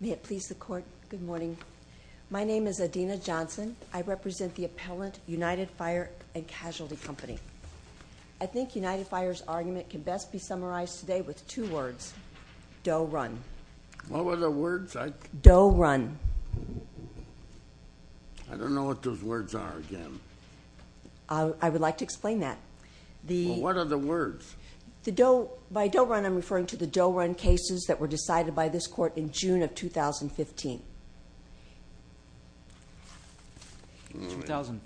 May it please the Court, good morning. My name is Adina Johnson. I represent the appellant United Fire & Casualty Company. I think United Fire's argument can best be summarized today with two words, Doe Run. What were the words? Doe Run. I don't know what those words are to them. I would like to explain that. What are the words? By Doe Run I'm referring to the Doe Run cases that were decided by this Court in June of 2015. 2013.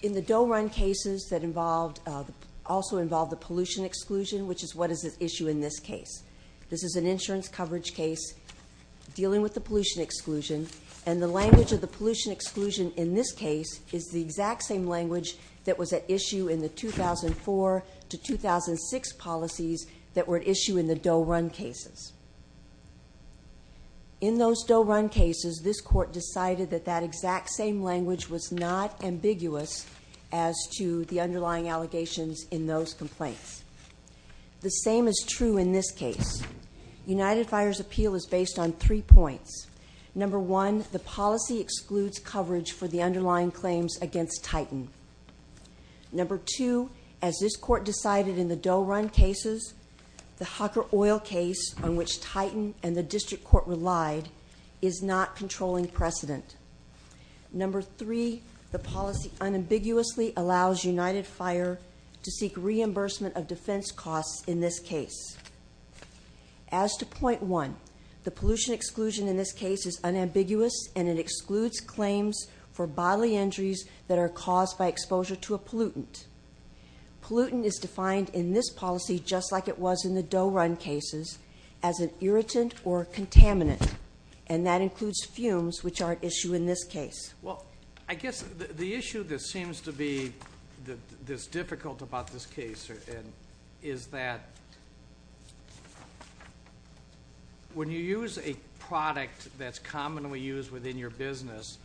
In the Doe Run cases that involved, also involved the pollution exclusion, which is what is at issue in this case. This is an insurance coverage case dealing with the pollution exclusion and the language of the pollution exclusion in this case is the exact same language that was at issue in the 2004 to 2006 policies that were at issue in the Doe Run cases. In those Doe Run cases this Court decided that that exact same language was not ambiguous as to the underlying allegations in those complaints. The same is true in this case. United Fire's appeal is based on three points. Number one, the policy excludes coverage for the underlying claims against Titan. Number two, as this Court decided in the Doe Run cases, the Hucker Oil case on which Titan and the District Court relied is not controlling precedent. Number three, the policy unambiguously allows United Fire to seek reimbursement of defense costs in this case. As to point one, the pollution exclusion in this case is unambiguous and it excludes claims for bodily injuries that are caused by exposure to a pollutant. Pollutant is defined in this policy, just like it was in the Doe Run cases, as an irritant or contaminant and that includes fumes which are at issue in this case. Well, I guess the issue that seems to be this difficult about this case is that when you use a product that's commonly used within your business,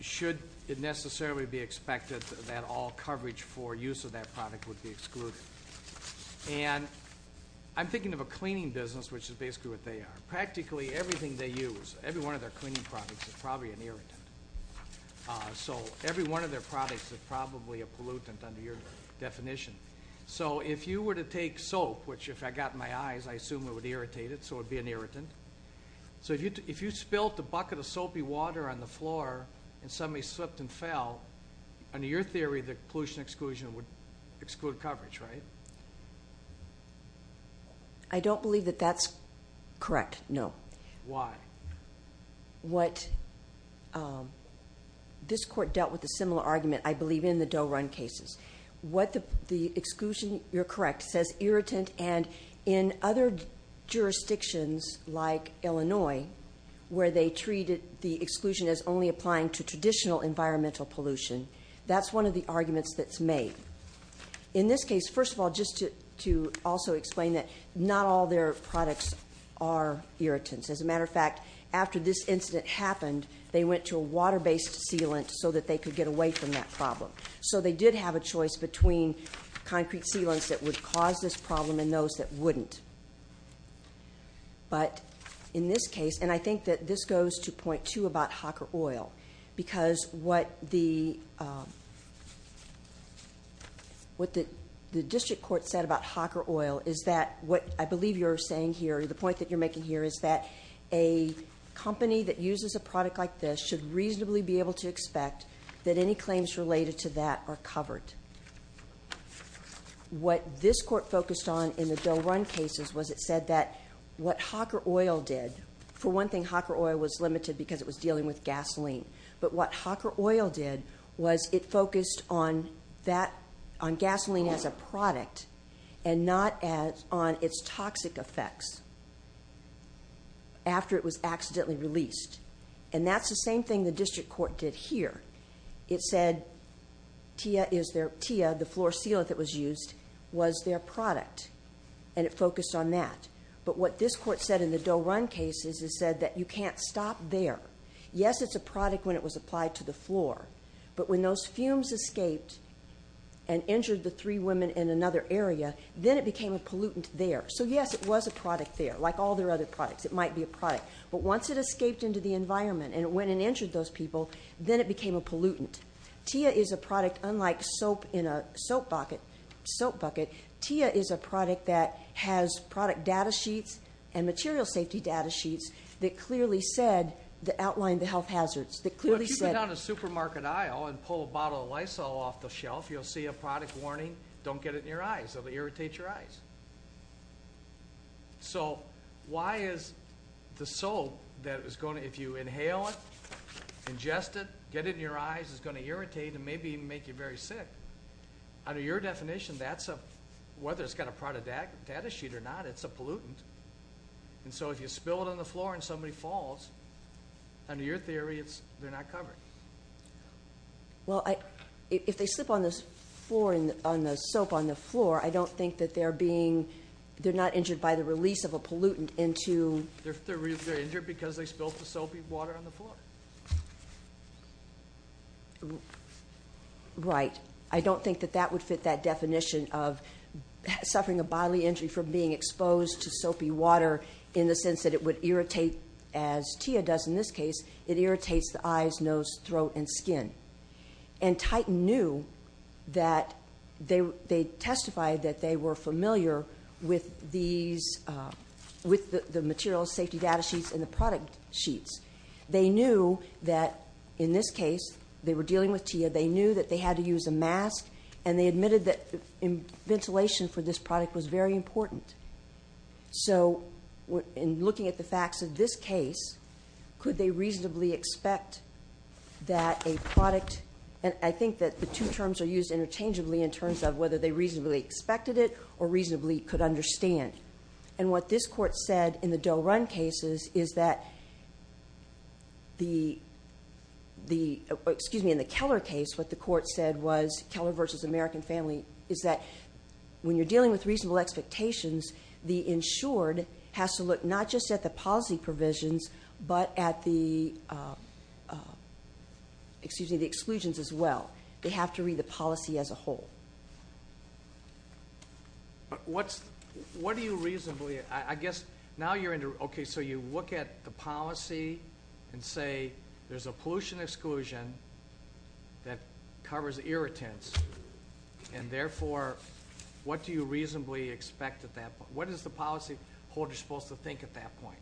should it necessarily be expected that all coverage for use of that product would be excluded? And I'm thinking of a cleaning business, which is basically what they are. Practically everything they use, every one of their cleaning products is probably an irritant. So every one of their products is probably a pollutant under your definition. So if you were to take soap, which if I got in my eyes, I assume it would irritate it, so it would be an irritant. So if you spilt a bucket of soapy water on the floor and somebody slipped and fell, under your theory, the pollution exclusion would exclude coverage, right? I don't believe that that's correct, no. Why? What, this court dealt with a similar argument, I believe, in the Doe Run cases. What the exclusion, you're correct, says irritant and in other jurisdictions like Illinois, where they treated the exclusion as only applying to traditional environmental pollution, that's one of the arguments that's made. In this case, first of all, just to also explain that not all their products are irritants. As a matter of fact, after this incident happened, they went to a water-based sealant so that they could get away from that problem. So they did have a choice between concrete sealants that would cause this problem and those that wouldn't. But in this case, and I think that this goes to point two about Hawker Oil, because what the district court said about Hawker Oil is that, what I believe you're saying here, the point that you're making here is that a company that uses a product like this should reasonably be able to expect that any claims related to that are covered. What this court focused on in the Doe Run cases was it said that what Hawker Oil did, for one thing, Hawker Oil was limited because it was dealing with gasoline. But what Hawker Oil did was it focused on gasoline as a product and not on its toxic effects after it was accidentally released. And that's the same thing the district court did here. It said TIA, the floor sealant that was used, was their product. And it focused on that. But what this court said in the Doe Run cases is said that you can't stop there. Yes, it's a product when it was applied to the floor. But when those fumes escaped and injured the three women in another area, then it became a pollutant there. So yes, it was a product there, like all their other products. It might be a product. But once it escaped into the environment and it went and injured those people, then it became a pollutant. TIA is a product, unlike soap in a soap bucket, TIA is a product that has product data sheets and material safety data sheets that clearly said, that outlined the health hazards, that clearly said- Well, if you go down a supermarket aisle and pull a bottle of Lysol off the shelf, you'll see a product warning, don't get it in your eyes. It'll irritate your eyes. So why is the soap that is going to, if you inhale it, ingest it, get it in your eyes, it's going to irritate and maybe make you very sick. Under your definition, that's a, whether it's got a product data sheet or not, it's a pollutant. And so if you spill it on the floor and somebody falls, under your theory, it's, they're not covered. Well I, if they slip on the floor, on the soap on the floor, I don't think that they're being, they're not injured by the release of a pollutant into- They're injured because they spilled the soapy water on the floor. Right. I don't think that that would fit that definition of suffering a bodily injury from being exposed to soapy water in the sense that it would irritate, as TIA does in this case, it irritates the eyes, nose, throat, and skin. And Titan knew that they testified that they were familiar with these, with the material safety data sheets and the product sheets. They knew that in this case, they were dealing with TIA, they knew that they had to use a mask and they admitted that ventilation for this product was very important. So in looking at the facts of this case, could they reasonably expect that a product, and I think that the two terms are used interchangeably in terms of whether they reasonably expected it or reasonably could understand. And what this court said in the Doe Run cases is that the, the, excuse me, in the Keller case, what the court said was, Keller versus American Family, is that when you're dealing with reasonable expectations, the insured has to look not just at the policy provisions, but at the, excuse me, the exclusions as well. They have to read the policy as a whole. But what's, what do you reasonably, I guess now you're in, okay, so you look at the policy and say there's a pollution exclusion that covers irritants and therefore what do you reasonably expect at that point? What is the policy holder supposed to think at that point?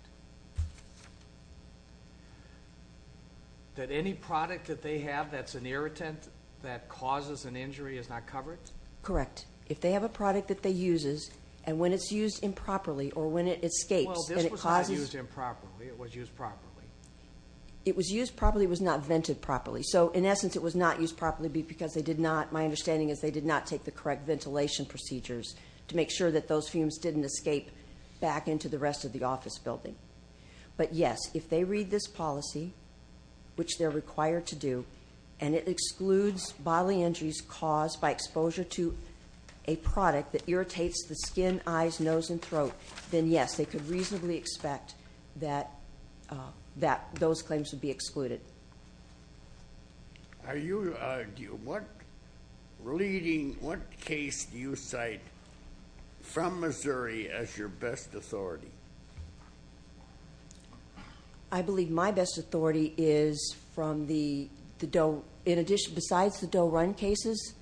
That any product that they have that's an irritant that causes an injury is not covered? Correct. If they have a product that they use and when it's used improperly or when it escapes and it causes. Well this was not used improperly, it was used properly. It was used properly, it was not vented properly. So in essence it was not used properly because they did not, my understanding is they did not take the correct ventilation procedures to make sure that those fumes didn't escape back into the rest of the office building. But yes, if they read this policy, which they're required to do, and it excludes bodily injuries caused by exposure to a product that irritates the skin, eyes, nose, and throat, then yes they could reasonably expect that those claims would be excluded. Are you, what leading, what case do you cite from Missouri as your best authority? I believe my best authority is from the, in addition, besides the Doe-Run cases.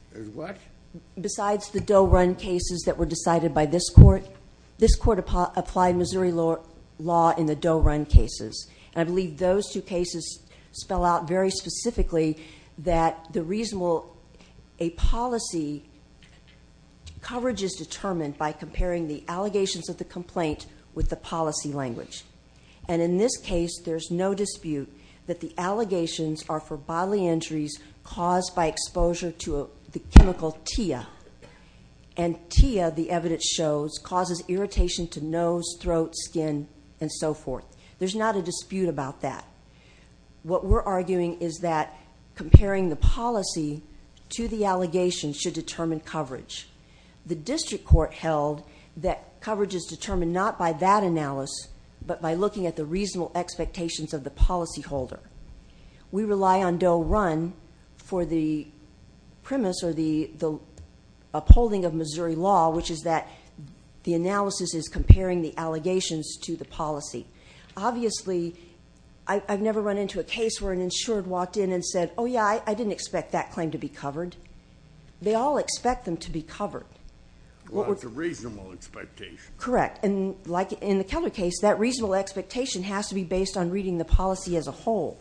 Besides the Doe-Run cases that were decided by this court, this court applied Missouri law in the Doe-Run cases. And I believe those two cases spell out very specifically that the reasonable, a policy coverage is determined by comparing the allegations of the complaint with the policy language. And in this case there's no dispute that the allegations are for bodily injuries caused by exposure to the chemical TIA. And TIA, the evidence shows, causes irritation to nose, throat, skin, and so forth. There's not a dispute about that. What we're arguing is that comparing the policy to the allegations should determine coverage. The district court held that coverage is determined not by that analysis, but by looking at the reasonable expectations of the policy holder. We rely on Doe-Run for the premise or the upholding of Missouri law, which is that the analysis is comparing the allegations to the policy. Obviously, I've never run into a case where an insured walked in and said, oh yeah, I didn't expect that claim to be covered. They all expect them to be covered. Well, it's a reasonable expectation. Correct. And like in the Keller case, that reasonable expectation has to be based on reading the policy as a whole.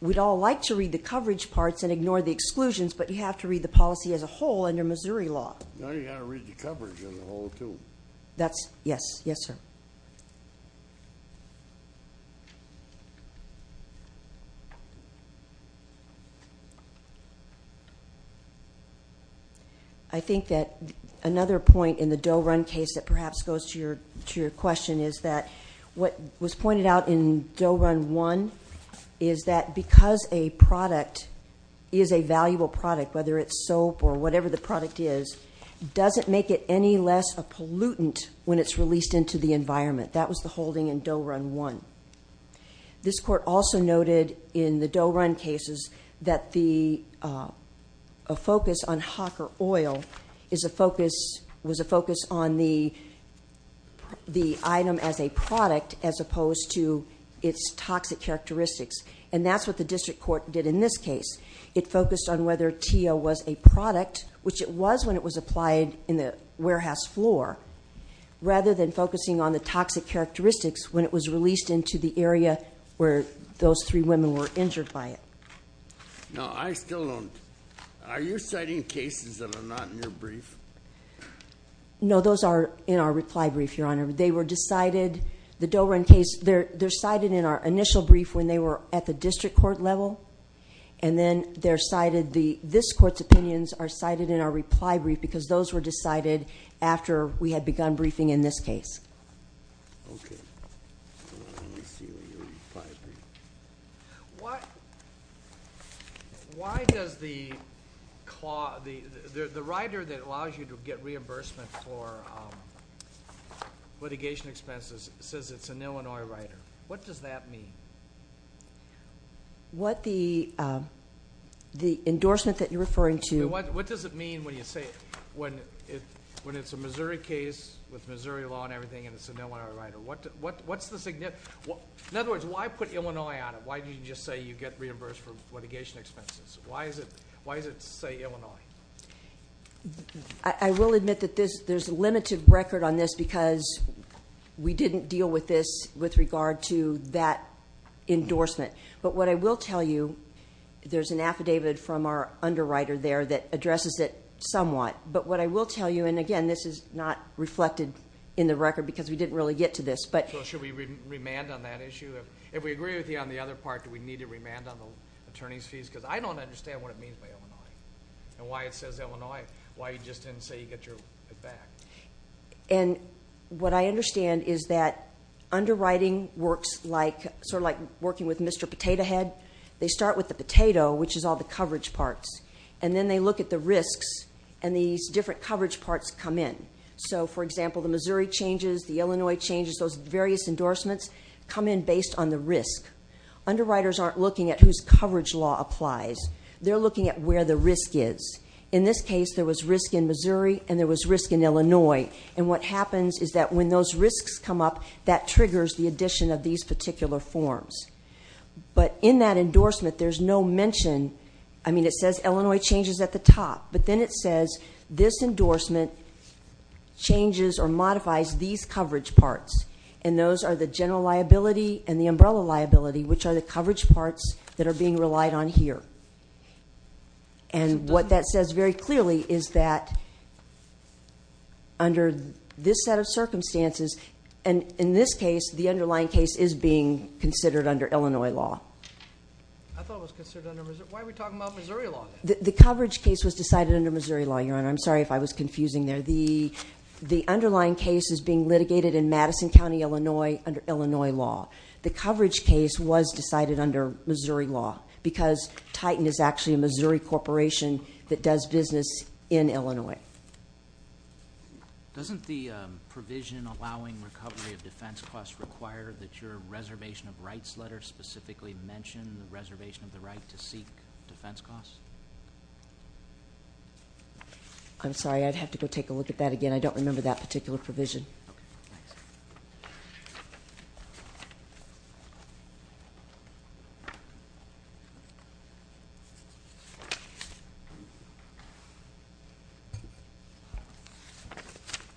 We'd all like to read the coverage parts and ignore the Missouri law. No, you've got to read the coverage as a whole, too. That's, yes. Yes, sir. I think that another point in the Doe-Run case that perhaps goes to your question is that what was pointed out in Doe-Run 1 is that because a product is a valuable product, whether it's soap or whatever the product is, doesn't make it any less a pollutant when it's released into the environment. That was the holding in Doe-Run 1. This court also noted in the Doe-Run cases that a focus on hawker oil was a focus on the item as a product as opposed to its toxic characteristics. And that's what the district court did in this case. It focused on whether teal was a product, which it was when it was applied in the warehouse floor, rather than focusing on the toxic characteristics when it was released into the area where those three women were injured by it. No, I still don't. Are you citing cases that are not in your brief? No, those are in our reply brief, Your Honor. They were decided, the Doe-Run case, they're cited in our initial brief when they were at the district court level, and then they're cited, this court's opinions are cited in our reply brief because those were decided after we had begun briefing in this case. Why does the rider that allows you to get reimbursement for litigation expenses says it's an Illinois rider? What does that mean? What the endorsement that you're referring to... What does it mean when you say, when it's a Missouri case with Missouri law and everything and it's an Illinois rider? What's the significance? In other words, why put Illinois on it? Why didn't you just say you get reimbursed for litigation expenses? Why does it say Illinois? I will admit that there's a limited record on this because we didn't deal with this with regard to that endorsement. But what I will tell you, there's an affidavit from our underwriter there that addresses it somewhat. But what I will tell you, and again, this is not reflected in the record because we didn't really get to this. So should we remand on that issue? If we agree with you on the other part, do we need to remand on the attorney's fees? Because I don't understand what it means by Illinois and why it says Illinois, why you just didn't say you get it back. And what I understand is that underwriting works sort of like working with Mr. Potato Head. They start with the potato, which is all the coverage parts, and then they look at the risks and these different coverage parts come in. So, for example, the Missouri changes, the Illinois changes, those various endorsements come in based on the risk. Underwriters aren't looking at whose coverage law applies. They're looking at where the risk is. In this case, there was risk in Missouri and there was risk in Illinois. And what happens is that when those risks come up, that triggers the addition of these particular forms. But in that endorsement, there's no mention. I mean, it says Illinois changes at the top, but then it says this endorsement changes or modifies these coverage parts. And those are the general liability and the umbrella liability, which are the coverage parts that are being relied on here. And what that says very clearly is that under this set of circumstances, and in this case, the underlying case is being considered under Illinois law. I thought it was considered under Missouri. Why are we talking about Missouri law? The coverage case was decided under Missouri law, Your Honor. I'm sorry if I was confusing there. The underlying case is being litigated in Madison County, Illinois, under Illinois law. The coverage case was decided under Missouri law because Titan is actually a Missouri corporation that does business in Illinois. Doesn't the provision allowing recovery of defense costs require that your reservation of rights letter specifically mention the reservation of the right to seek defense costs? I'm sorry. I'd have to go take a look at that again. I don't remember that particular provision.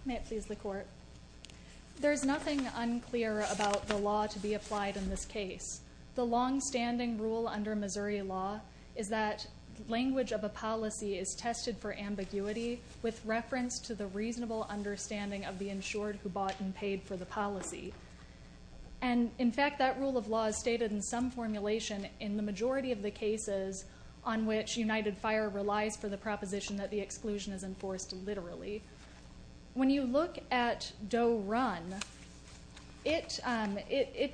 May it please the Court. There's nothing unclear about the law to be applied in this case. The longstanding rule under Missouri law is that language of a policy is tested for ambiguity with reference to the reasonable understanding of the insured who bought and paid for the policy. And, in fact, that rule of law is stated in some formulation in the majority of the cases on which United Fire relies for the proposition that the exclusion is enforced literally. When you look at Doe Run, it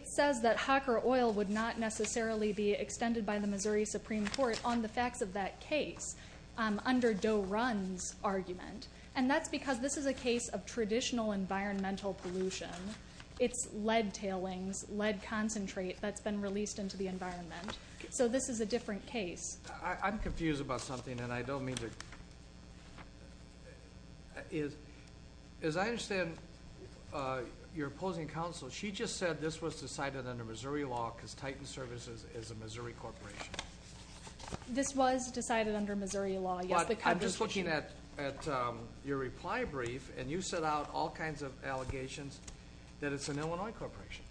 says that Hawker Oil would not necessarily be extended by the Missouri Supreme Court on the facts of that case under Doe Run's argument. And that's because this is a case of traditional environmental pollution. It's lead tailings, lead concentrate that's been released into the environment. So this is a different case. I'm confused about something, and I don't mean to... As I understand your opposing counsel, she just said this was decided under Missouri law because Titan Services is a Missouri corporation. This was decided under Missouri law. But I'm just looking at your reply brief, and you set out all kinds of allegations that it's an Illinois corporation.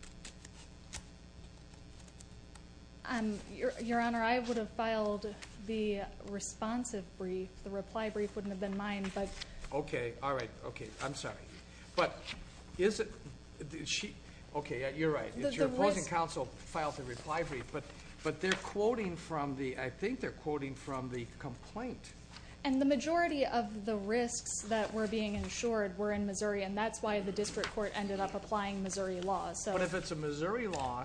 Your Honor, I would have filed the responsive brief. The reply brief wouldn't have been mine, but... Okay. All right. Okay. I'm sorry. But is it... Okay, you're right. Your opposing counsel filed the reply brief, but they're quoting from the... I think they're quoting from the complaint. And the majority of the risks that were being insured were in Missouri, and that's why the district court ended up applying Missouri law. But if it's a Missouri law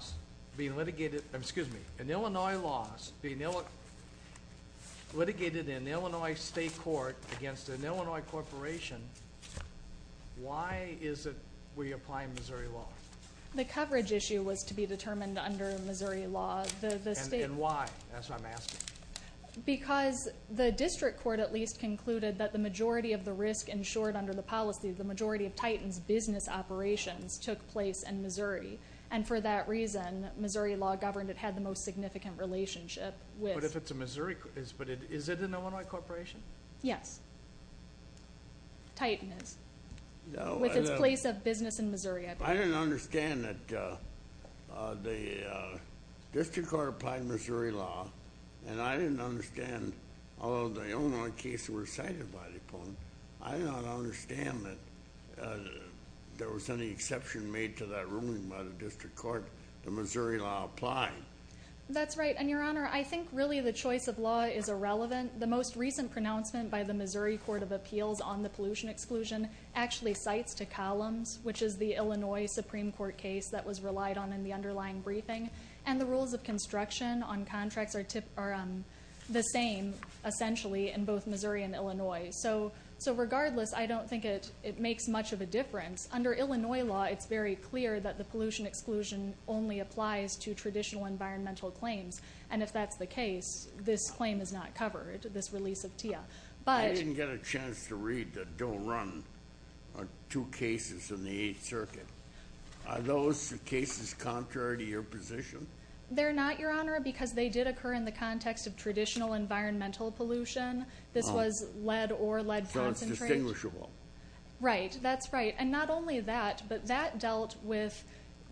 being litigated... Excuse me, an Illinois law being litigated in an Illinois state court against an Illinois corporation, why is it we apply Missouri law? The coverage issue was to be determined under Missouri law. And why? That's what I'm asking. Because the district court at least concluded that the majority of the risk insured under the policy, the majority of Titan's business operations, took place in Missouri. And for that reason, Missouri law governed it, had the most significant relationship with... But if it's a Missouri... But is it an Illinois corporation? Yes. Titan is. With its place of business in Missouri, I believe. I didn't understand that the district court applied Missouri law, and I didn't understand, although the Illinois cases were cited by the opponent, I did not understand that there was any exception made to that ruling by the district court that Missouri law applied. That's right, and, Your Honor, I think really the choice of law is irrelevant. The most recent pronouncement by the Missouri Court of Appeals on the pollution exclusion actually cites to Columns, which is the Illinois Supreme Court case that was relied on in the underlying briefing, and the rules of construction on contracts are the same, essentially, in both Missouri and Illinois. So regardless, I don't think it makes much of a difference. Under Illinois law, it's very clear that the pollution exclusion only applies to traditional environmental claims, and if that's the case, this claim is not covered, this release of TIAA. I didn't get a chance to read the Doe Run, or two cases in the Eighth Circuit. Are those cases contrary to your position? They're not, Your Honor, because they did occur in the context of traditional environmental pollution. This was lead or lead concentrate. So it's distinguishable. Right, that's right, and not only that, but that dealt with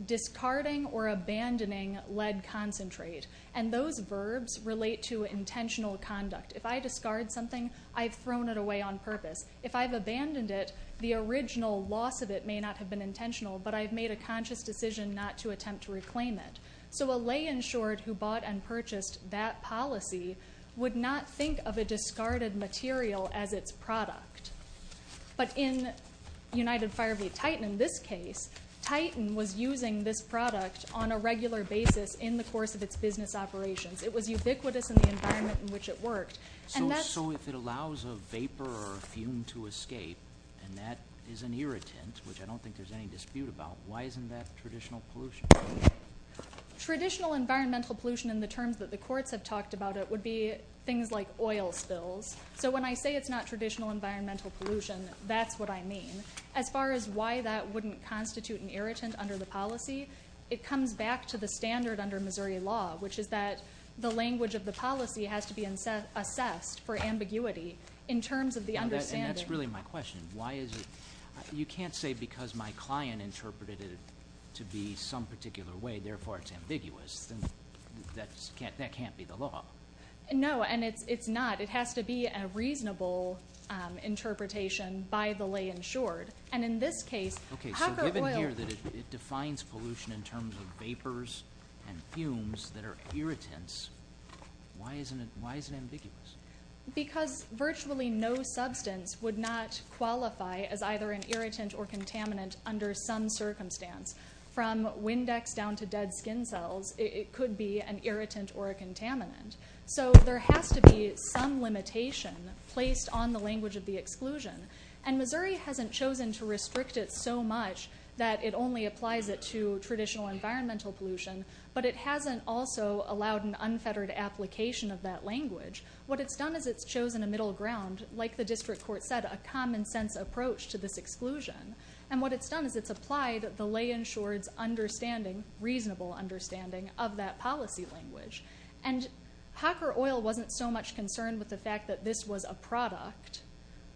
discarding or abandoning lead concentrate, and those verbs relate to intentional conduct. If I discard something, I've thrown it away on purpose. If I've abandoned it, the original loss of it may not have been intentional, but I've made a conscious decision not to attempt to reclaim it. So a lay-insured who bought and purchased that policy would not think of a discarded material as its product. But in United Fire of the Titan, in this case, Titan was using this product on a regular basis in the course of its business operations. It was ubiquitous in the environment in which it worked. So if it allows a vapor or a fume to escape, and that is an irritant, which I don't think there's any dispute about, why isn't that traditional pollution? Traditional environmental pollution in the terms that the courts have talked about it would be things like oil spills. So when I say it's not traditional environmental pollution, that's what I mean. As far as why that wouldn't constitute an irritant under the policy, it comes back to the standard under Missouri law, which is that the language of the policy has to be assessed for ambiguity in terms of the understanding. And that's really my question. You can't say because my client interpreted it to be some particular way, therefore it's ambiguous. That can't be the law. No, and it's not. It has to be a reasonable interpretation by the lay-insured. And in this case, copper oil— Okay, so given here that it defines pollution in terms of vapors and fumes that are irritants, why is it ambiguous? Because virtually no substance would not qualify as either an irritant or contaminant under some circumstance. From Windex down to dead skin cells, it could be an irritant or a contaminant. So there has to be some limitation placed on the language of the exclusion. And Missouri hasn't chosen to restrict it so much that it only applies it to traditional environmental pollution, but it hasn't also allowed an unfettered application of that language. What it's done is it's chosen a middle ground, like the district court said, a common-sense approach to this exclusion. And what it's done is it's applied the lay-insured's understanding, reasonable understanding, of that policy language. And hopper oil wasn't so much concerned with the fact that this was a product.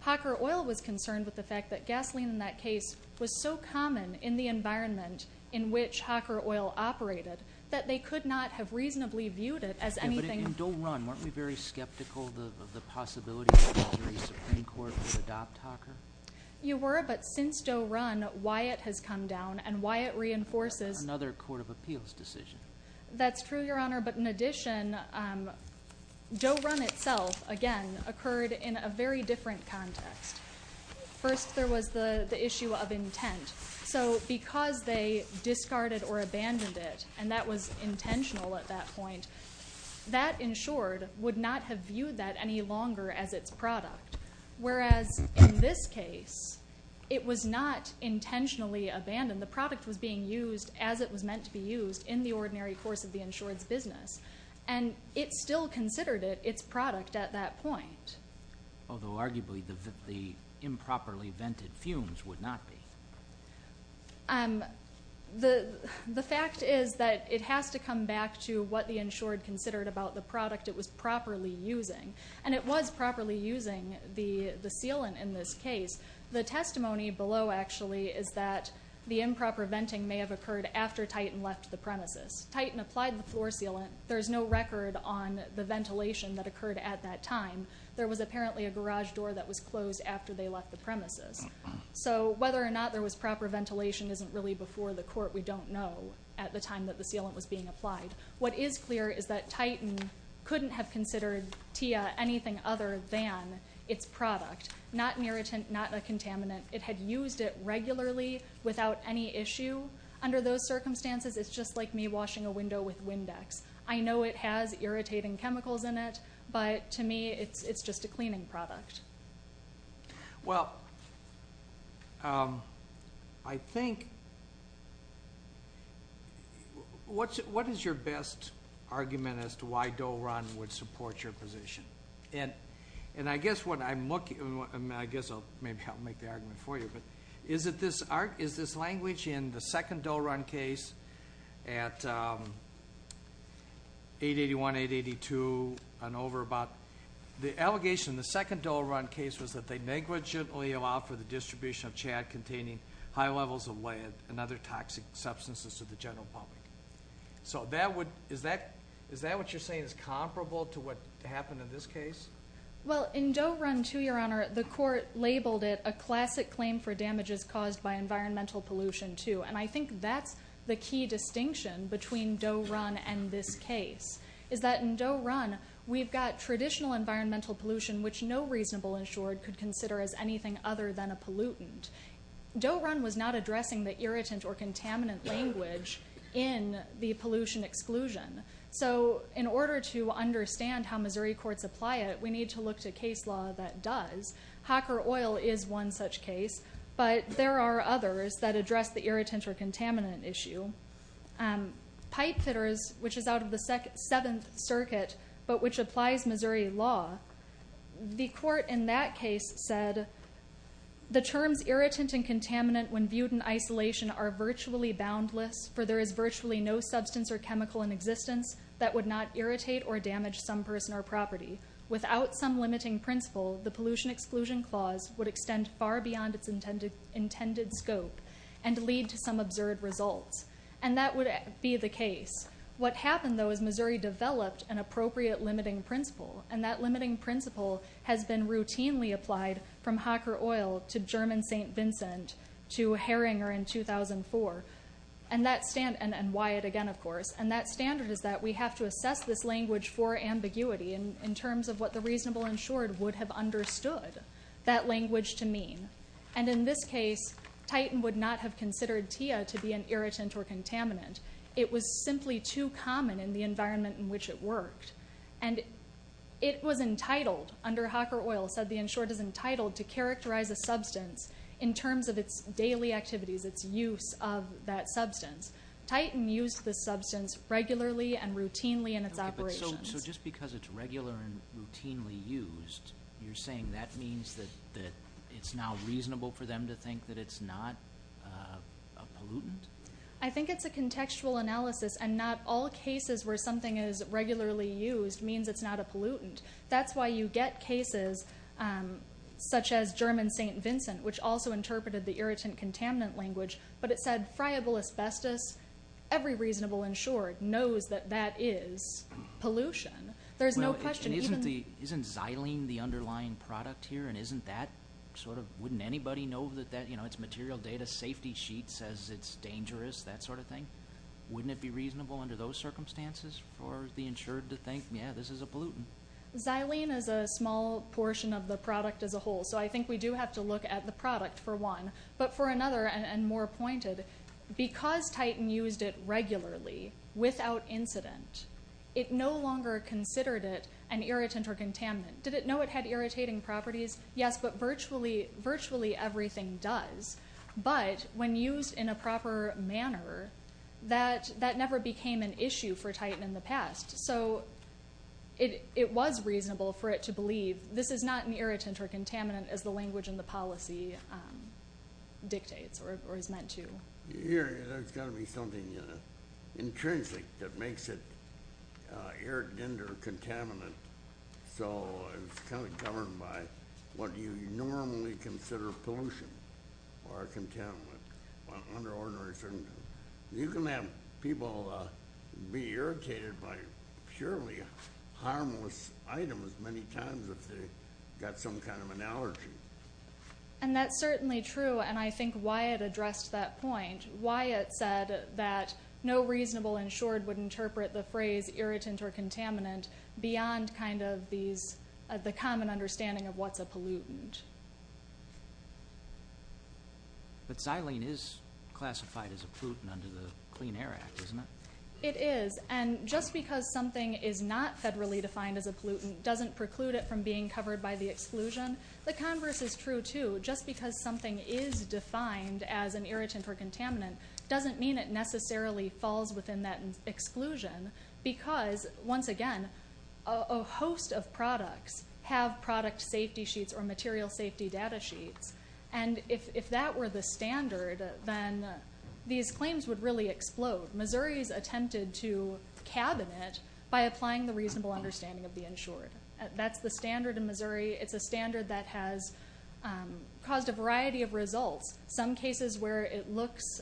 Hopper oil was concerned with the fact that gasoline in that case was so common in the environment in which hopper oil operated that they could not have reasonably viewed it as anything— But in Doe Run, weren't we very skeptical of the possibility that the Missouri Supreme Court would adopt hopper? You were, but since Doe Run, why it has come down and why it reinforces— Another court of appeals decision. That's true, Your Honor, but in addition, Doe Run itself, again, occurred in a very different context. First, there was the issue of intent. So because they discarded or abandoned it, and that was intentional at that point, that, in short, would not have viewed that any longer as its product, whereas in this case, it was not intentionally abandoned. The product was being used as it was meant to be used in the ordinary course of the insured's business, and it still considered it its product at that point. Although, arguably, the improperly vented fumes would not be. The fact is that it has to come back to what the insured considered about the product it was properly using, and it was properly using the sealant in this case. The testimony below, actually, is that the improper venting may have occurred after Titan left the premises. Titan applied the floor sealant. There is no record on the ventilation that occurred at that time. There was apparently a garage door that was closed after they left the premises. So whether or not there was proper ventilation isn't really before the court. We don't know at the time that the sealant was being applied. What is clear is that Titan couldn't have considered TIA anything other than its product, not an irritant, not a contaminant. It had used it regularly without any issue. Under those circumstances, it's just like me washing a window with Windex. I know it has irritating chemicals in it, but to me it's just a cleaning product. Well, I think, what is your best argument as to why Dole Run would support your position? And I guess what I'm looking, I guess I'll maybe help make the argument for you, but is this language in the second Dole Run case at 881, 882 and over about, the allegation in the second Dole Run case was that they negligently allowed for the distribution of chad containing high levels of lead and other toxic substances to the general public. So is that what you're saying is comparable to what happened in this case? Well, in Dole Run 2, Your Honor, the court labeled it a classic claim for damages caused by environmental pollution, too. And I think that's the key distinction between Dole Run and this case, is that in Dole Run, we've got traditional environmental pollution, which no reasonable insured could consider as anything other than a pollutant. Dole Run was not addressing the irritant or contaminant language in the pollution exclusion. So in order to understand how Missouri courts apply it, we need to look to case law that does. Hacker oil is one such case, but there are others that address the irritant or contaminant issue. Pipe fitters, which is out of the Seventh Circuit, but which applies Missouri law, the court in that case said, the terms irritant and contaminant when viewed in isolation are virtually boundless, for there is virtually no substance or chemical in existence that would not irritate or damage some person or property. Without some limiting principle, the pollution exclusion clause would extend far beyond its intended scope and lead to some absurd results. And that would be the case. What happened, though, is Missouri developed an appropriate limiting principle, and that limiting principle has been routinely applied from Hacker oil to German St. Vincent, to Herringer in 2004, and Wyatt again, of course. And that standard is that we have to assess this language for ambiguity in terms of what the reasonable insured would have understood that language to mean. And in this case, Titan would not have considered TIA to be an irritant or contaminant. It was simply too common in the environment in which it worked. And it was entitled, under Hacker oil, said the insured is entitled to characterize a substance in terms of its daily activities, its use of that substance. Titan used the substance regularly and routinely in its operations. So just because it's regular and routinely used, you're saying that means that it's now reasonable for them to think that it's not a pollutant? I think it's a contextual analysis, and not all cases where something is regularly used means it's not a pollutant. That's why you get cases such as German St. Vincent, which also interpreted the irritant-contaminant language, but it said friable asbestos, every reasonable insured knows that that is pollution. There's no question. Isn't xylene the underlying product here, and isn't that sort of, wouldn't anybody know that it's material data, safety sheet says it's dangerous, that sort of thing? Wouldn't it be reasonable under those circumstances for the insured to think, yeah, this is a pollutant? Xylene is a small portion of the product as a whole, so I think we do have to look at the product, for one. But for another, and more pointed, because Titan used it regularly, without incident, it no longer considered it an irritant or contaminant. Did it know it had irritating properties? Yes, but virtually everything does. But when used in a proper manner, that never became an issue for Titan in the past. So it was reasonable for it to believe this is not an irritant or contaminant as the language in the policy dictates or is meant to. Here, there's got to be something intrinsic that makes it irritant or contaminant. So it's kind of governed by what you normally consider pollution or a contaminant under ordinary circumstances. You can have people be irritated by purely harmless items many times if they've got some kind of an allergy. And that's certainly true, and I think Wyatt addressed that point. Wyatt said that no reasonable insured would interpret the phrase irritant or contaminant beyond kind of the common understanding of what's a pollutant. But xylene is classified as a pollutant under the Clean Air Act, isn't it? It is, and just because something is not federally defined as a pollutant doesn't preclude it from being covered by the exclusion. The converse is true, too. Just because something is defined as an irritant or contaminant doesn't mean it necessarily falls within that exclusion because, once again, a host of products have product safety sheets or material safety data sheets. And if that were the standard, then these claims would really explode. Missouri's attempted to cabin it by applying the reasonable understanding of the insured. That's the standard in Missouri. It's a standard that has caused a variety of results, some cases where it looks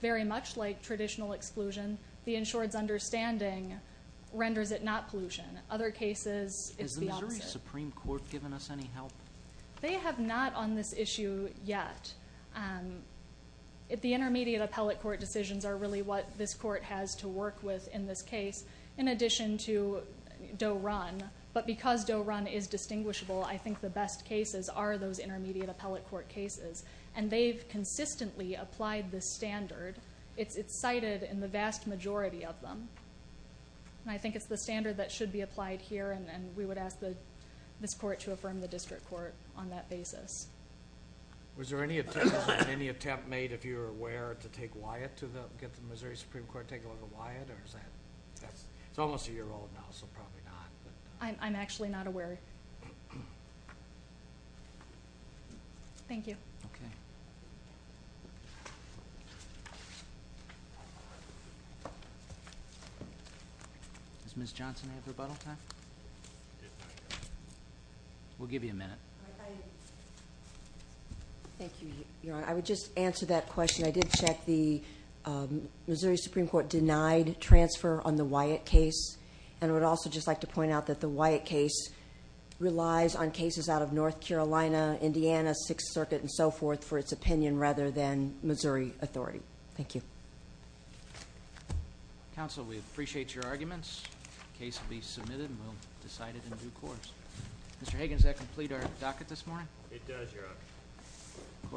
very much like traditional exclusion. The insured's understanding renders it not pollution. Other cases it's the opposite. Has the Missouri Supreme Court given us any help? They have not on this issue yet. The intermediate appellate court decisions are really what this court has to work with in this case, in addition to Doe-Run, but because Doe-Run is distinguishable, I think the best cases are those intermediate appellate court cases, and they've consistently applied this standard. It's cited in the vast majority of them, and I think it's the standard that should be applied here, and we would ask this court to affirm the district court on that basis. Was there any attempt made, if you were aware, to get the Missouri Supreme Court to take a look at Wyatt? It's almost a year old now, so probably not. I'm actually not aware. Thank you. Okay. Does Ms. Johnson have rebuttal time? We'll give you a minute. Thank you, Your Honor. I would just answer that question. I did check the Missouri Supreme Court denied transfer on the Wyatt case, and I would also just like to point out that the Wyatt case relies on cases out of North Carolina, Indiana, Sixth Circuit, and so forth for its opinion rather than Missouri authority. Thank you. Counsel, we appreciate your arguments. The case will be submitted, and we'll decide it in due course. Mr. Hagan, does that complete our docket this morning? It does, Your Honor.